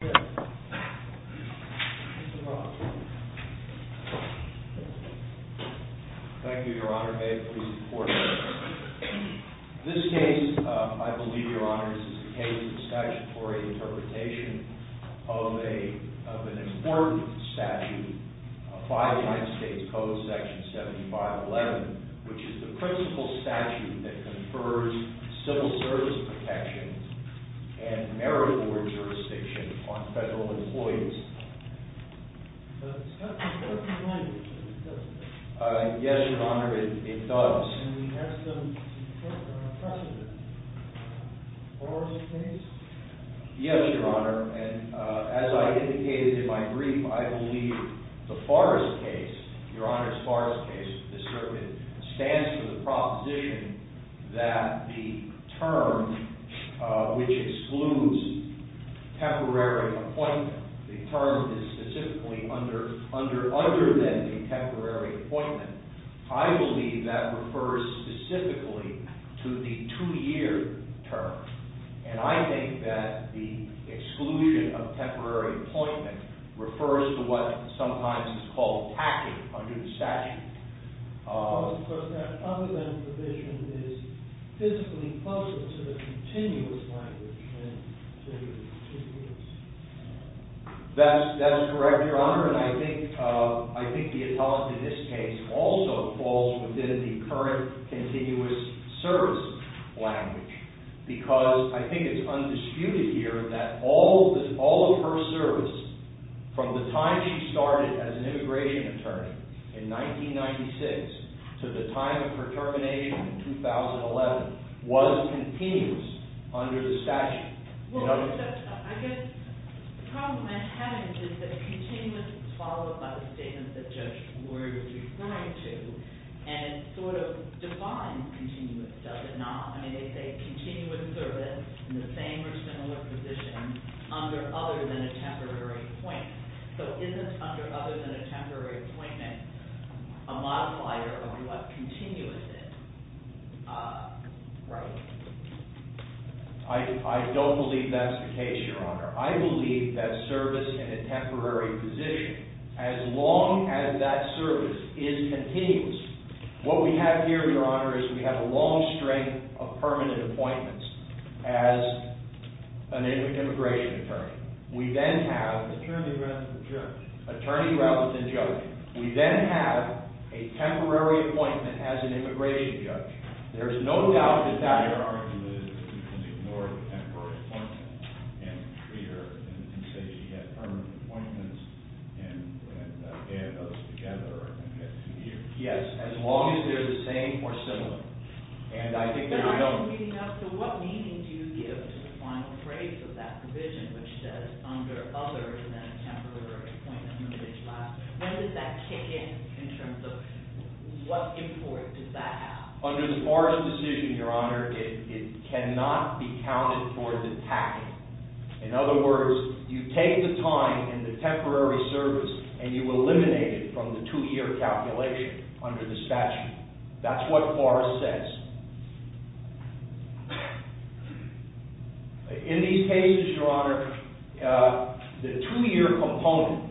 Thank you, Your Honor. May it please the Court. This case, I believe, Your Honor, is a case of statutory interpretation of an important statute, 5 United States Code, Section 7511, which is the principal statute that confers civil service protections and merit-award jurisdiction upon federal employees. The statute does not define it, does it? Yes, Your Honor, it does. And we have some precedent for this case? Yes, Your Honor, and as I indicated in my brief, I believe the Farris case, Your Honor's Farris case, the circuit, stands for the proposition that the term which excludes temporary appointment, the term that is specifically under then the temporary appointment, I believe that refers specifically to the two-year term. And I think that the exclusion of temporary appointment refers to what sometimes is called tacking under the statute. Well, of course, that proposition is physically closer to the continuous language than to the two years. That is correct, Your Honor, and I think the intelligence in this case also falls within the current continuous service language because I think it's undisputed here that all of her service from the time she started as an immigration attorney in 1996 to the time of her termination in 2011 was continuous under the statute. Well, Judge, I guess the problem I have is that continuous is followed by the statement that Judge Lurie was referring to, and it sort of defines continuous, does it not? I mean, they say continuous service in the same or similar position under other than a temporary appointment. So isn't under other than a temporary appointment a modifier of what continuous is? Right. I don't believe that's the case, Your Honor. I believe that service in a temporary position, as long as that service is continuous, what we have here, Your Honor, is we have a long string of permanent appointments as an immigration attorney. We then have an attorney rather than judge. We then have a temporary appointment as an immigration judge. There's no doubt that that argument is that we can ignore the temporary appointment and treat her and say she had permanent appointments and had those together and had two years. Yes, as long as they're the same or similar. And I think there's no— But I'm not reading out to what meaning do you give to the final phrase of that provision which says under other than a temporary appointment, when does that kick in in terms of what import does that have? Under the Forrest decision, Your Honor, it cannot be counted towards attacking. In other words, you take the time and the temporary service and you eliminate it from the two-year calculation under the statute. That's what Forrest says. In these cases, Your Honor, the two-year component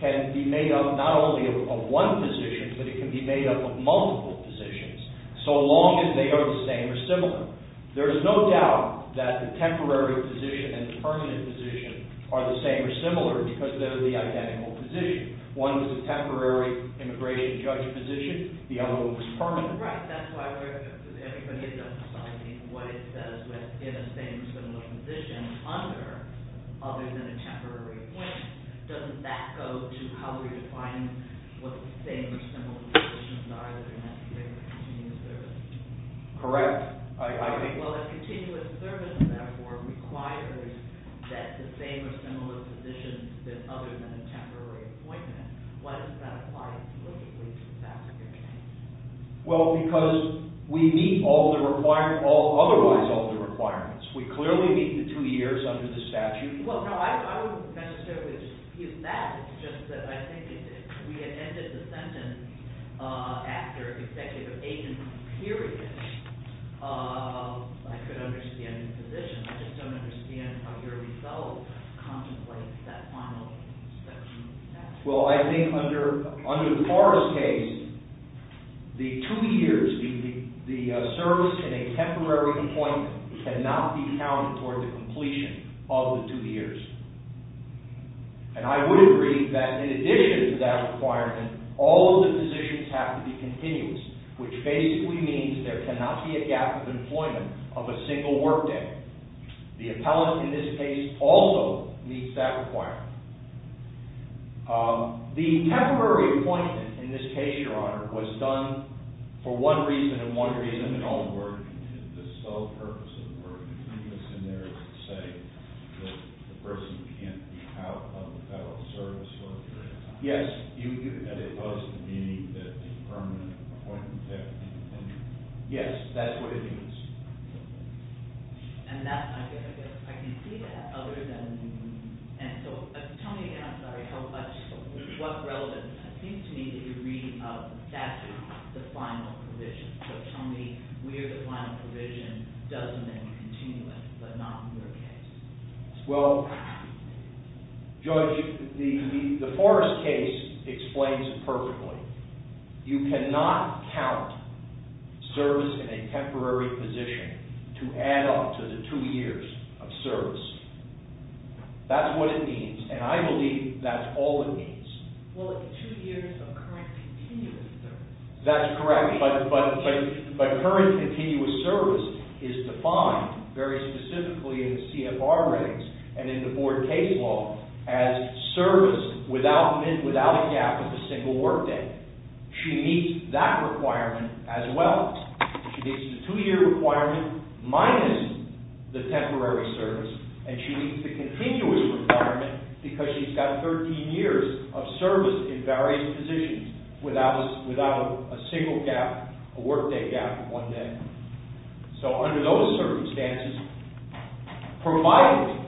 can be made up not only of one position, but it can be made up of multiple positions, so long as they are the same or similar. There is no doubt that the temporary position and the permanent position are the same or similar because they're the identical position. One was a temporary immigration judge position. The other one was permanent. Right. That's why we're—everybody is emphasizing what it says within a same or similar position under other than a temporary appointment. Doesn't that go to how we're defining what the same or similar positions are that are necessary for continuous service? Correct. Well, if continuous service, therefore, requires that the same or similar position is other than a temporary appointment, why doesn't that apply explicitly to the fact of your change? Well, because we meet all the requirements—otherwise all the requirements. We clearly meet the two years under the statute. Well, no. I would kind of stick with that. It's just that I think if we had ended the sentence after executive agent period, I could understand the position. I just don't understand how your result contemplates that final section of the statute. Well, I think under the Forrest case, the two years, the service in a temporary appointment cannot be counted toward the completion of the two years. And I would agree that in addition to that requirement, all of the positions have to be continuous, which basically means there cannot be a gap of employment of a single work day. The appellant in this case also meets that requirement. The temporary appointment in this case, Your Honor, was done for one reason and one reason in all work. The sole purpose of the work is to say that the person can't be out of the federal service for a period of time. Yes, it was the meaning that the permanent appointment had to be continued. Yes, that's what it means. I can see that. Tell me what relevance it seems to me that you're reading out of the statute, the final provision. So tell me where the final provision doesn't mean continuous, but not in your case. Well, Judge, the Forrest case explains it perfectly. You cannot count service in a temporary position to add up to the two years of service. That's what it means, and I believe that's all it means. Well, the two years of continuous service. That's correct, but current continuous service is defined very specifically in the CFR ratings and in the board case law as service without a gap of a single work day. She meets that requirement as well. She meets the two-year requirement minus the temporary service, and she meets the continuous because she's got 13 years of service in various positions without a single gap, a work day gap of one day. So under those circumstances, provided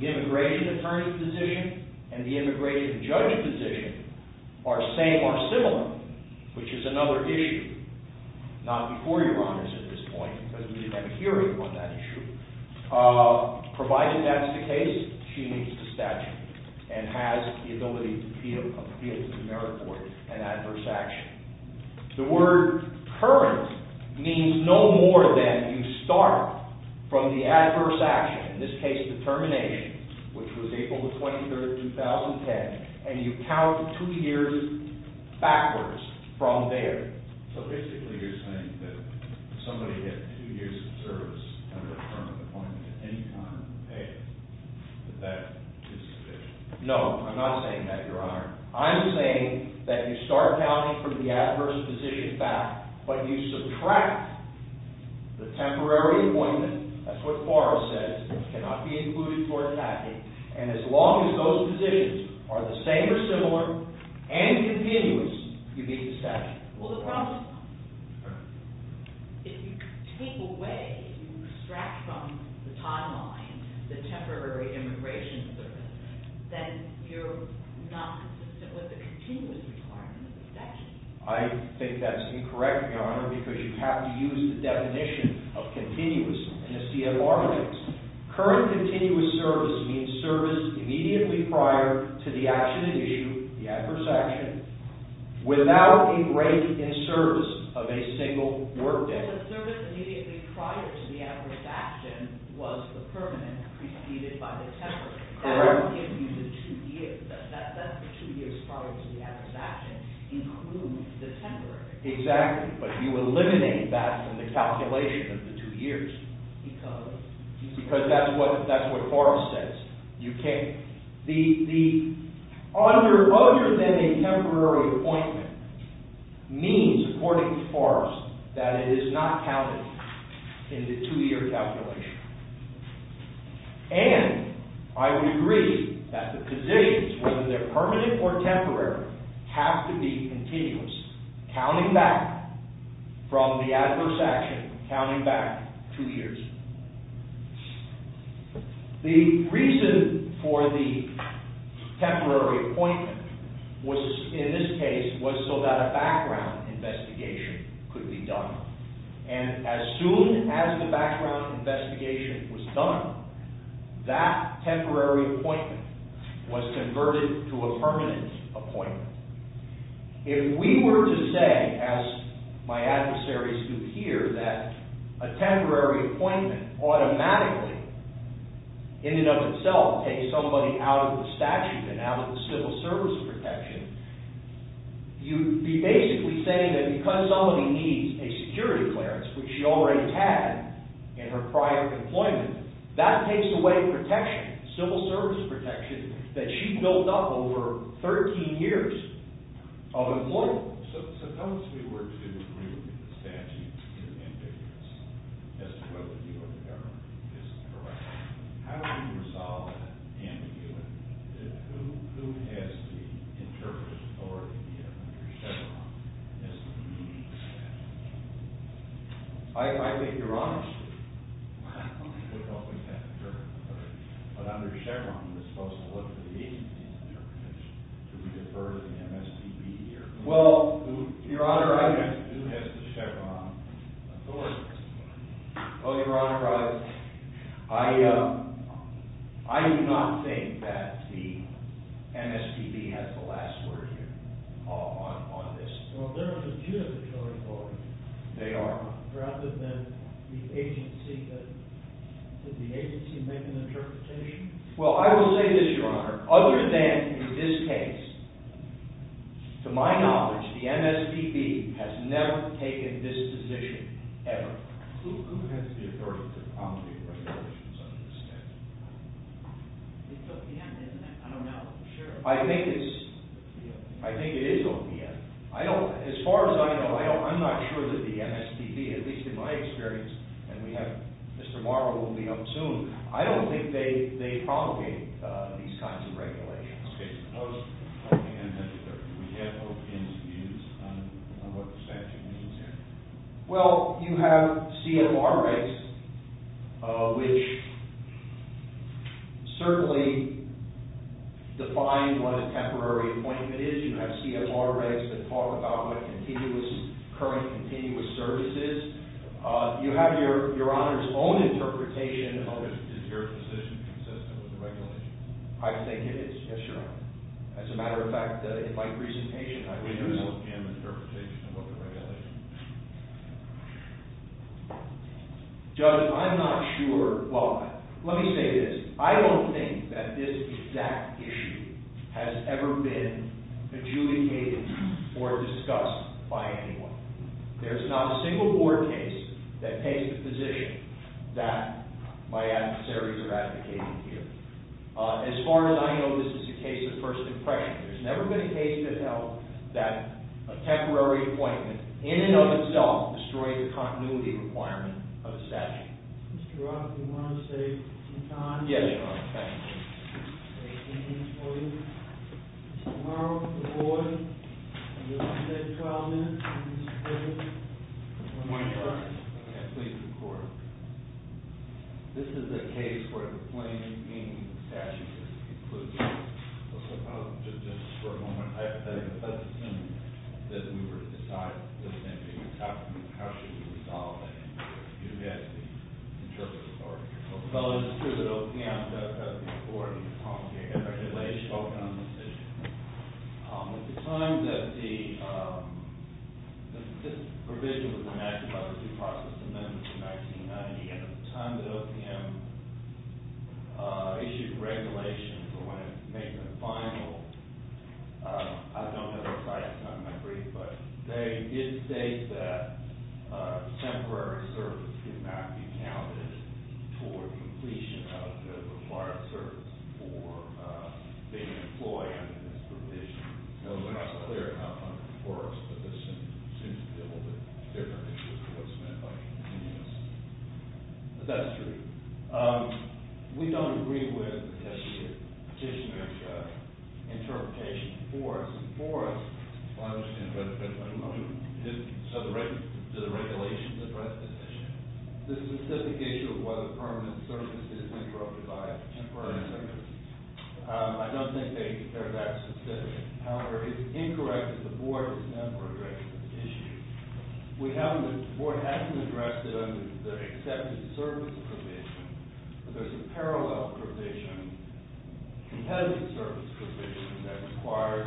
the immigration attorney's position and the immigration judge's position are same or similar, which is another issue, not before your honors at this point because we didn't have a hearing on that issue, provided that's the case, she meets the statute and has the ability to feel a field of merit for an adverse action. The word current means no more than you start from the adverse action, in this case determination, which was April 23, 2010, and you count two years backwards from there. So basically you're saying that if somebody had two years of service under a term of appointment at any time in the page, that that is sufficient. No, I'm not saying that, your honor. I'm saying that you start counting from the adverse position back, but you subtract the temporary appointment, that's what Forrest says, cannot be included for attacking, and as long as those positions are the same or similar and continuous, you meet the statute. Well, the problem is, if you take away, if you extract from the timeline the temporary immigration service, then you're not consistent with the continuous requirement of the statute. I think that's incorrect, your honor, because you have to use the definition of continuous in a CFR case. Current continuous service means service immediately prior to the action in issue, the adverse action, without a break in service of a single work day. So the service immediately prior to the adverse action was the permanent preceded by the temporary. Correct. That would give you the two years, that's the two years prior to the adverse action include the temporary. Exactly, but you eliminate that from the calculation of the two years. Because? Because that's what Forrest says. The under, other than a temporary appointment means, according to Forrest, that it is not counted in the two year calculation. And I would agree that the positions, whether they're permanent or temporary, have to be continuous, counting back from the adverse action, counting back two years. The reason for the temporary appointment was, in this case, was so that a background investigation could be done. And as soon as the background investigation was done, that temporary appointment was converted to a permanent appointment. If we were to say, as my adversaries do here, that a temporary appointment automatically, in and of itself, takes somebody out of the statute and out of the civil service protection, you'd be basically saying that because somebody needs a security clearance, which she already had in her prior employment, that takes away protection, civil service protection, that she's built up over 13 years of employment. Suppose we were to agree that the statute is ambiguous, as to whether you or the government is correct. How would you resolve that ambiguity? Who has the interpretive authority under Chevron as to the meaning of the statute? I think you're honest here. But under Chevron, you're supposed to look at the agency's interpretation. Do we defer to the MSPB here? Well, Your Honor, I do not think that the MSPB has the last word here on this. Well, there are the two that have the authority. They are. Rather than the agency making the interpretation? Well, I will say this, Your Honor. Other than in this case, to my knowledge, the MSPB has never taken this position, ever. Who has the authority to accommodate regulations under the statute? It's OPM, isn't it? I don't know for sure. I think it is OPM. As far as I know, I'm not sure that the MSPB, at least in my experience, and Mr. Morrow will be up soon, I don't think they promulgate these kinds of regulations. Okay. Suppose OPM had to defer. Do we have OPM's views on what the statute means here? Well, you have CFR rights, which certainly define what a temporary appointment is. You have CFR rights that talk about what continuous, current continuous service is. You have Your Honor's own interpretation of it. Is your position consistent with the regulation? I think it is, yes, Your Honor. As a matter of fact, in my presentation, I would use OPM's interpretation of what the regulation means. Judge, I'm not sure. Well, let me say this. I don't think that this exact issue has ever been adjudicated or discussed by anyone. There's not a single board case that takes the position that my adversaries are advocating here. As far as I know, this is a case of first impression. There's never been a case that held that a temporary appointment in and of itself destroyed the continuity requirement of the statute. Mr. Roth, do you want to say some time? Yes, Your Honor. Thank you. I have a few things for you. Mr. Murrow, the board. You only have 12 minutes. Mr. Quigley, do you want to start? Yes, please, Your Honor. This is a case where the plain meaning of the statute is inclusive. Just for a moment, I have a feeling that we were to decide the same thing. How should we resolve that? You have the interpretive authority. Well, it's true that OPM has the authority to promulgate a regulation on this issue. At the time that the provision was enacted by the due process amendment in 1990, at the end of the time that OPM issued the regulation for when it made the final, I don't know if I have time to read it, but they did state that temporary service could not be counted toward completion of the required service for being an employee under this provision. It's not clear how it works, but this seems to be a little bit different than what's meant by continuous. But that's true. We don't agree with the petitioner's interpretation for us. For us, the regulations address this issue. The specific issue of whether permanent service is interrupted by temporary service, I don't think they're that specific. However, it's incorrect that the board has never addressed this issue. The board hasn't addressed it under the accepted service provision, but there's a parallel provision, competitive service provision, that requires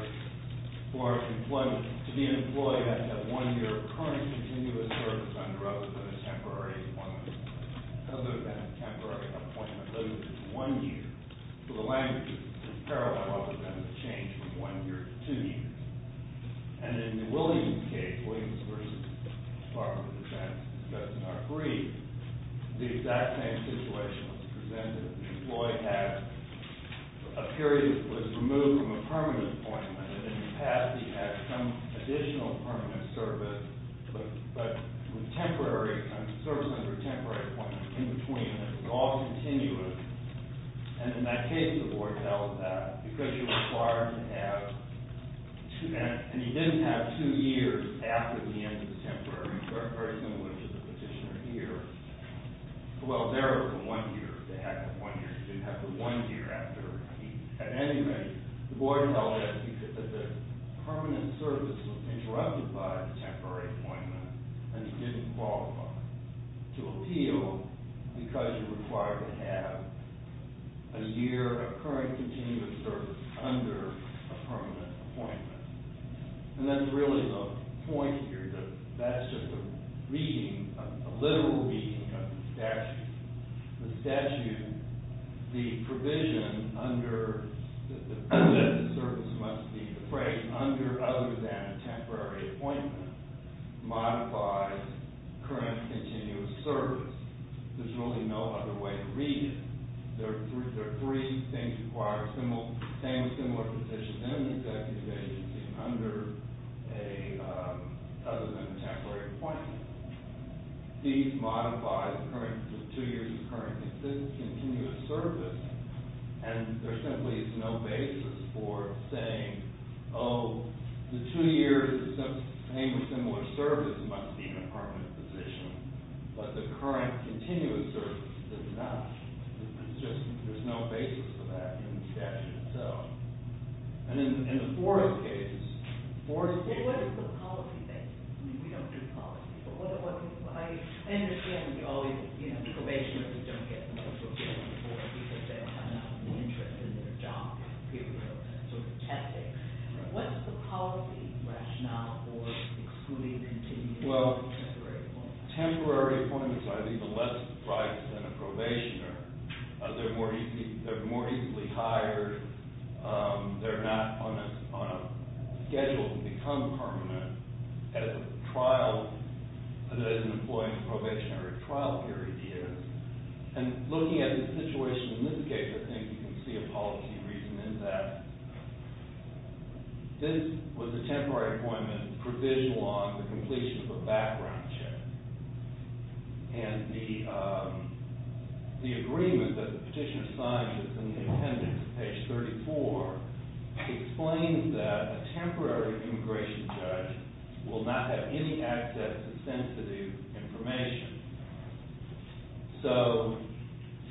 for an employee to be an employee and have one year of current continuous service under oath at a temporary appointment, other than a temporary appointment. Those are just one year. So the language is parallel, other than the change from one year to two years. And in Williams' case, Williams v. Barclay, which I discussed in our brief, the exact same situation was presented. The employee had a period that was removed from a permanent appointment, and in the past he had some additional permanent service, but temporary service under a temporary appointment, in between, and it was all continuous. And in that case, the board held that because you're required to have, and he didn't have two years after the end of the temporary, very similar to the petitioner here. Well, there it was one year. They had the one year. He didn't have the one year after. At any rate, the board held that because the permanent service was interrupted by a temporary appointment, and he didn't qualify to appeal because you're required to have a year of current continuous service under a permanent appointment. And that's really the point here, that that's just a reading, a literal reading of the statute. The statute, the provision that the service must be appraised under other than a temporary appointment, modifies current continuous service. There's really no other way to read it. There are three things requiring the same or similar petition in an executive agency, under a, other than a temporary appointment. These modify the two years of current continuous service, and there simply is no basis for saying, oh, the two years of same or similar service must be in a permanent position. But the current continuous service is not. It's just, there's no basis for that in the statute itself. And what is the policy basis? I mean, we don't do policy, but what, I understand we always, you know, the probationers don't get the most of the money for it because they're not interested in their job, period, sort of tactics. What's the policy rationale for excluding continuous service from temporary appointments? Temporary appointments are either less price than a probationer. They're more easily hired. They're not on a schedule to become permanent as a trial, as an employee in a probationary trial period is. And looking at the situation in this case, I think you can see a policy reason in that. This was a temporary appointment provisional on the completion of a background check. And the agreement that the petitioner signed was in the attendance, page 34, explains that a temporary immigration judge will not have any access to sensitive information. So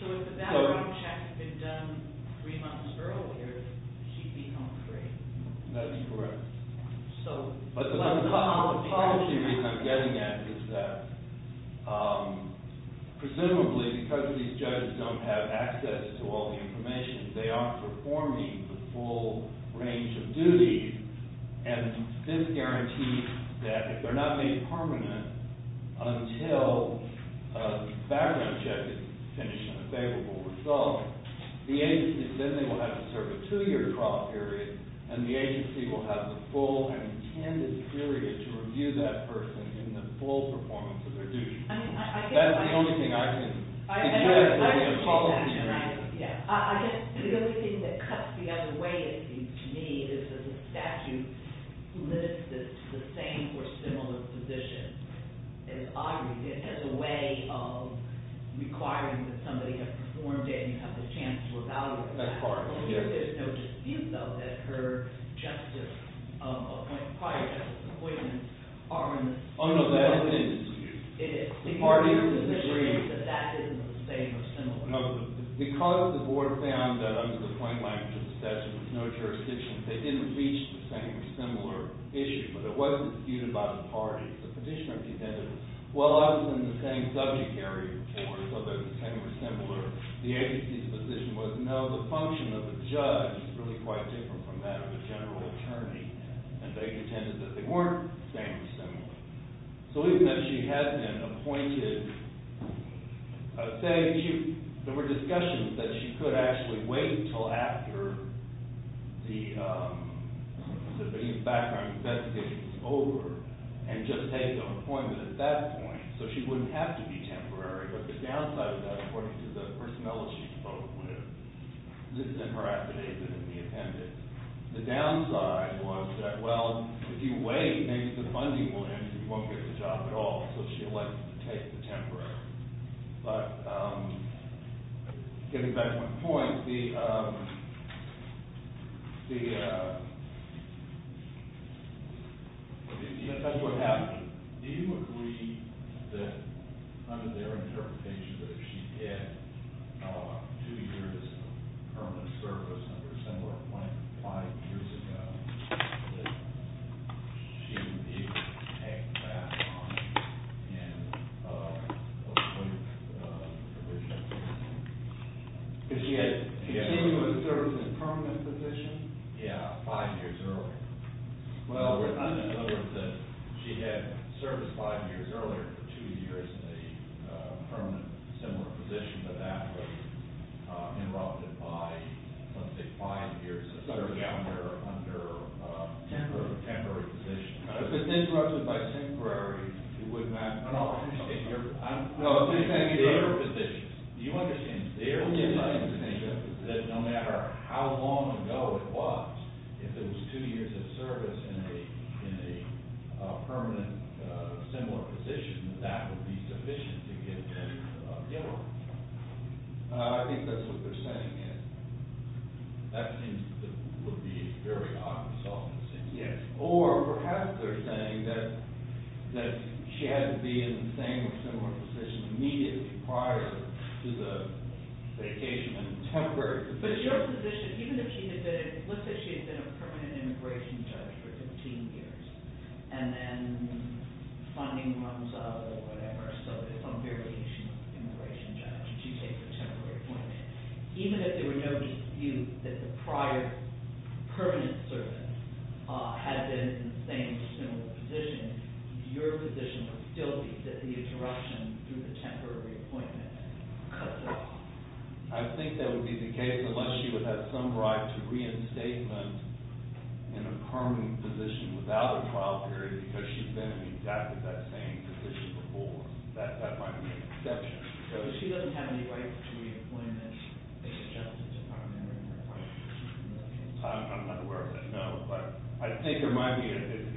if that background check had been done three months earlier, she'd be home free. That's correct. But the policy reason I'm getting at is that, presumably because these judges don't have access to all the information, they aren't performing the full range of duties, and this guarantees that if they're not made permanent until the background check is finished and a favorable result, the agency then will have to serve a two-year trial period, and the agency will have the full and intended period to review that person in the full performance of their duties. That's the only thing I can suggest that would be a policy reason. I guess the only thing that cuts the other way, to me, is that the statute limits this to the same or similar positions. It has a way of requiring that somebody has performed and you have the chance to evaluate them. That's correct. There is no dispute, though, that her justice appointment, prior justice appointment, are in the same or similar position. The parties disagree. That that is the same or similar. No, because the board found that under the plain language of the statute, there's no jurisdiction, they didn't reach the same or similar issue, but it wasn't disputed by the parties. The petitioner presented, well, I was in the same subject area, so they're the same or similar. The agency's position was, no, the function of the judge is really quite different from that of a general attorney, and they contended that they weren't the same or similar. So even though she has been appointed, I would say there were discussions that she could actually wait until after the background investigation was over and just take the appointment at that point, so she wouldn't have to be temporary. But the downside of that, according to the personnel she spoke with, this is in her affidavit and in the attendance. The downside was that, well, if you wait, maybe the funding will end and you won't get the job at all, so she elected to take the temporary. But getting back to my point, that's what happened. Do you agree that, under their interpretation, that if she had two years of permanent service, number similar to 25 years ago, that she would be able to take that on and appoint a position? If she had two years of service and a permanent position? Yeah, five years earlier. Well, we're trying to discover that she had service five years earlier, two years in a permanent similar position, but that was interrupted by, let's say, five years of service, under a temporary position. If it's interrupted by temporary, it wouldn't matter at all. Do you understand their position? Do you understand their position that no matter how long ago it was, if it was two years of service in a permanent similar position, that that would be sufficient to get a job? Yeah. I think that's what they're saying. That seems to be a very odd result, in a sense. Yes. Or perhaps they're saying that she had to be in the same or similar position immediately prior to the vacation and temporary position. But your position, even if she had been, let's say she had been a permanent immigration judge for 15 years and then funding runs out or whatever, so there's some variation of immigration judge, if you take the temporary appointment, even if there were no dispute that the prior permanent service had been in the same or similar position, your position would still be that the interruption through the temporary appointment cut it off. I think that would be the case unless she would have some right to reinstatement in a permanent position without a trial period because she's been in exactly that same position before. That might be an exception. So she doesn't have any right to reappointment in the Justice Department in her current position? I'm not aware of that, no. But I think there might be,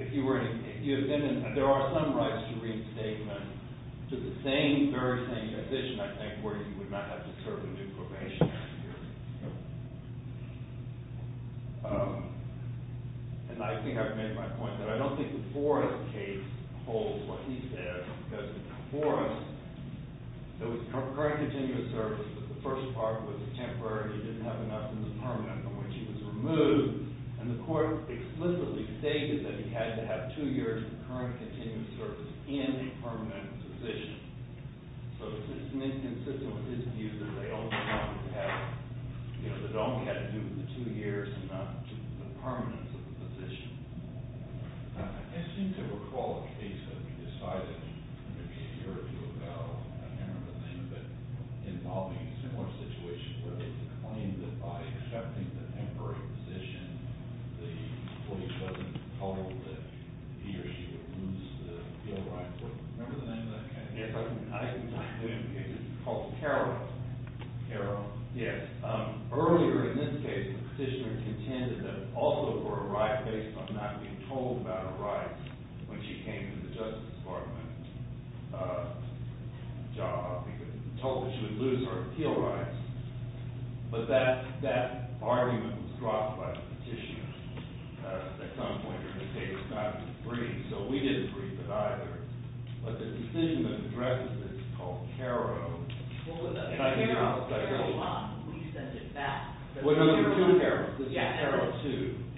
if you were in, if you had been in, there are some rights to reinstatement to the same, very same position, I think, where you would not have to serve a new probationary period. And I think I've made my point, but I don't think the Forrest case holds what he said because in Forrest, there was current continuous service, but the first part was temporary, he didn't have enough in the permanent, in which he was removed, and the court explicitly stated that he had to have two years of current continuous service in a permanent position. So it's inconsistent with his view that they only wanted to have, you know, that it only had to do with the two years and not the permanence of the position. I seem to recall a case that we decided, and there may be an interview about, I can't remember the name of it, involving a similar situation where they claimed that by accepting the temporary position, the police wasn't told that he or she would lose the appeal right. Remember the name of that case? I think it's on Zoom, it's called Carol. Carol? Yes. Earlier in this case, the petitioner contended that also for a right based on not being told about a right when she came to the Justice Department job, told that she would lose her appeal rights, but that argument was dropped by the petitioner at some point in this case, not in the brief, so we didn't brief it either. But the decision that addresses this is called Carol. Carol, Carol 1, we sent it back. Carol 2. Carol 2,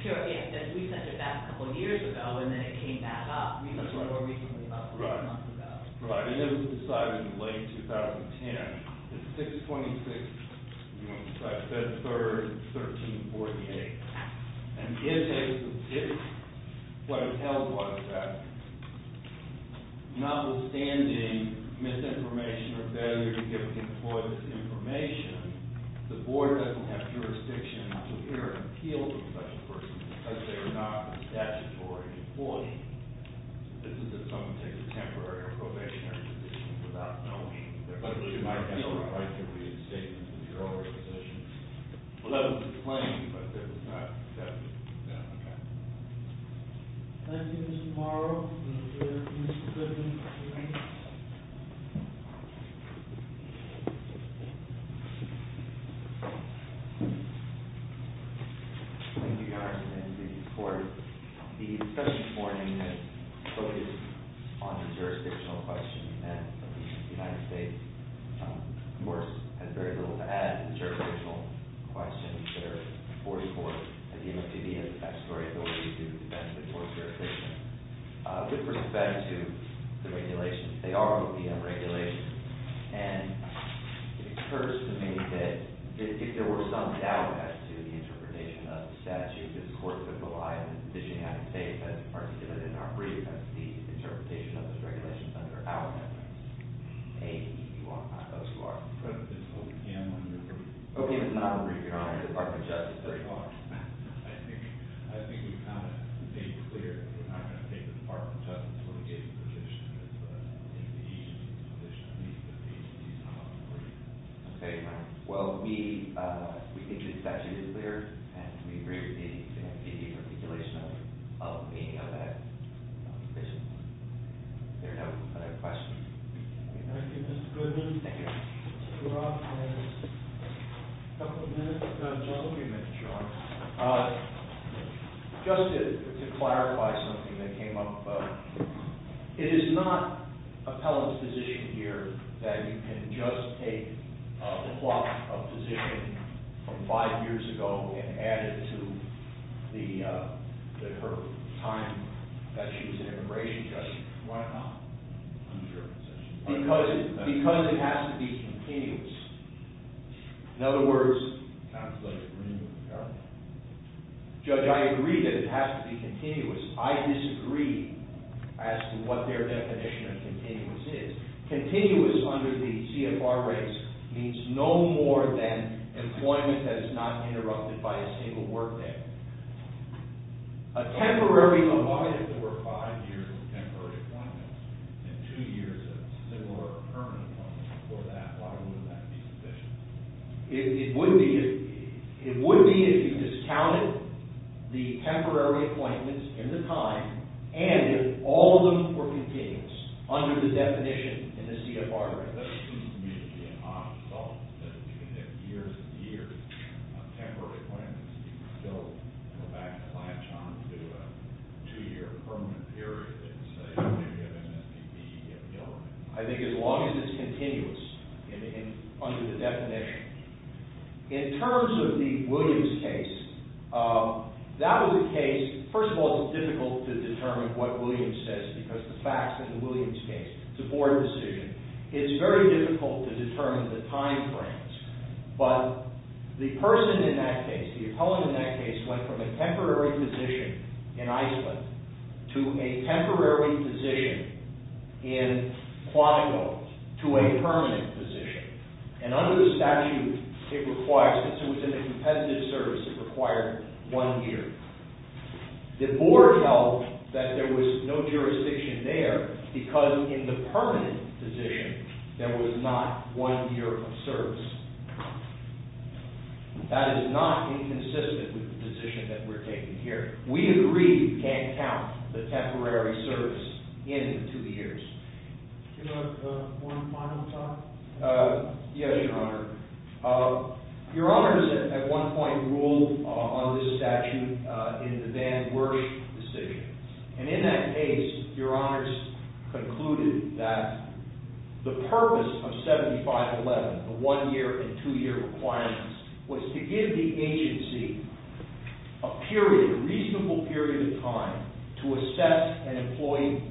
yes, we sent it back a couple of years ago and then it came back up more recently, about four months ago. Right, and it was decided in late 2010, 6-26, I said 3rd, 1348. And in this case, what it tells us is that notwithstanding misinformation or failure to give an employee this information, the board doesn't have jurisdiction to hear an appeal from such a person because they are not a statutory employee. This is if someone takes a temporary or probationary position without knowing that they're going to lose their appeal right. That's a right that we had stated in the earlier position. Well, that was the claim, but that was not accepted. Yeah, okay. Thank you, Mr. Morrow. Mr. Griffin. Thank you, Your Honor. The court, the discussion this morning is focused on the jurisdictional question and the United States, of course, has very little to add to the jurisdictional question. There are 44, and the MFPD has the statutory ability to defend the board's jurisdiction. With respect to the regulations, they are OPM regulations, and it occurs to me that if there were some doubt as to the interpretation of the statute, this court could rely on the decision you have to take as articulated in our brief as to the interpretation of those regulations under our reference. Hey, you are not those who are. This is OPM. Okay, Mr. Morrow. Your Honor, Department of Justice. I think we've kind of made it clear that we're not going to take the Department of Justice when we get to the position of the MFPD and the position of the MFPD. Okay, fine. Well, we think the statute is clear, and we agree with the MFPD's articulation of any of that. Is there no other questions? Thank you, Mr. Goodman. Thank you. Mr. Roth has a couple of minutes of time, so I'll give you a minute, Your Honor. Just to clarify something that came up, it is not appellant's position here that you can just take the block of position from five years ago and add it to her time that she was an immigration judge. Why not? Because it has to be continuous. In other words... Judge, I agree that it has to be continuous. I disagree as to what their definition of continuous is. Continuous under the CFR race means no more than employment that is not interrupted by a single work day. A temporary employment, if there were five years of temporary employment and two years of similar permanent employment before that, why wouldn't that be sufficient? It would be if you discounted the temporary appointments in the time and if all of them were continuous under the definition in the CFR race. It doesn't seem to me to be an odd result that if you can get years and years of temporary appointments, you can still go back and latch on to a two-year permanent period, let's say, if you have an STD. I think as long as it's continuous under the definition. In terms of the Williams case, that was a case... First of all, it's difficult to determine what Williams says because the facts in the Williams case support the decision. It's very difficult to determine the time frames. But the person in that case, the appellant in that case, went from a temporary position in Iceland to a temporary position in Quantico to a permanent position. And under the statute, since it was in a competitive service, it required one year. The board held that there was no jurisdiction there because in the permanent position, there was not one year of service. That is not inconsistent with the position that we're taking here. We agree you can't count the temporary service in the two years. Can I have one final thought? Yes, Your Honor. Your Honors, at one point, ruled on this statute in the Van Werth decision. And in that case, Your Honors concluded that the purpose of 7511, the one-year and two-year requirements, was to give the agency a period, a reasonable period of time, to assess an employee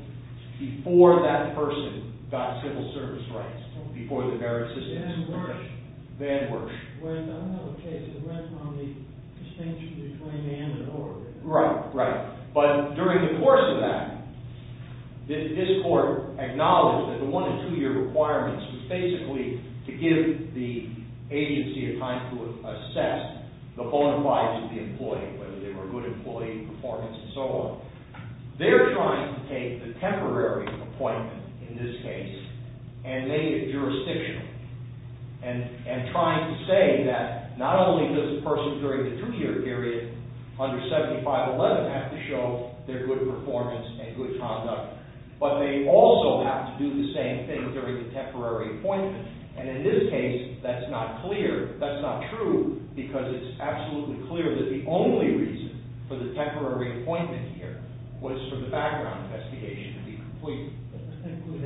before that person got civil service rights, before the merit system was established. Van Werth. Van Werth. Well, I don't have a case that went from the distinction between Van and Org. Right, right. But during the course of that, this court acknowledged that the one- and two-year requirements was basically to give the agency a time to assess the bona fides of the employee, whether they were a good employee, performance, and so on. They're trying to take the temporary appointment, in this case, and make it jurisdictional. And trying to say that not only does the person during the two-year period under 7511 have to show their good performance and good conduct, but they also have to do the same thing during the temporary appointment. And in this case, that's not clear, that's not true, because it's absolutely clear that the only reason for the temporary appointment here was for the background investigation to be complete. Thank you. Van Werth. Van Werth. Van Werth. Van Werth. Van Werth. Van Werth. Van Werth.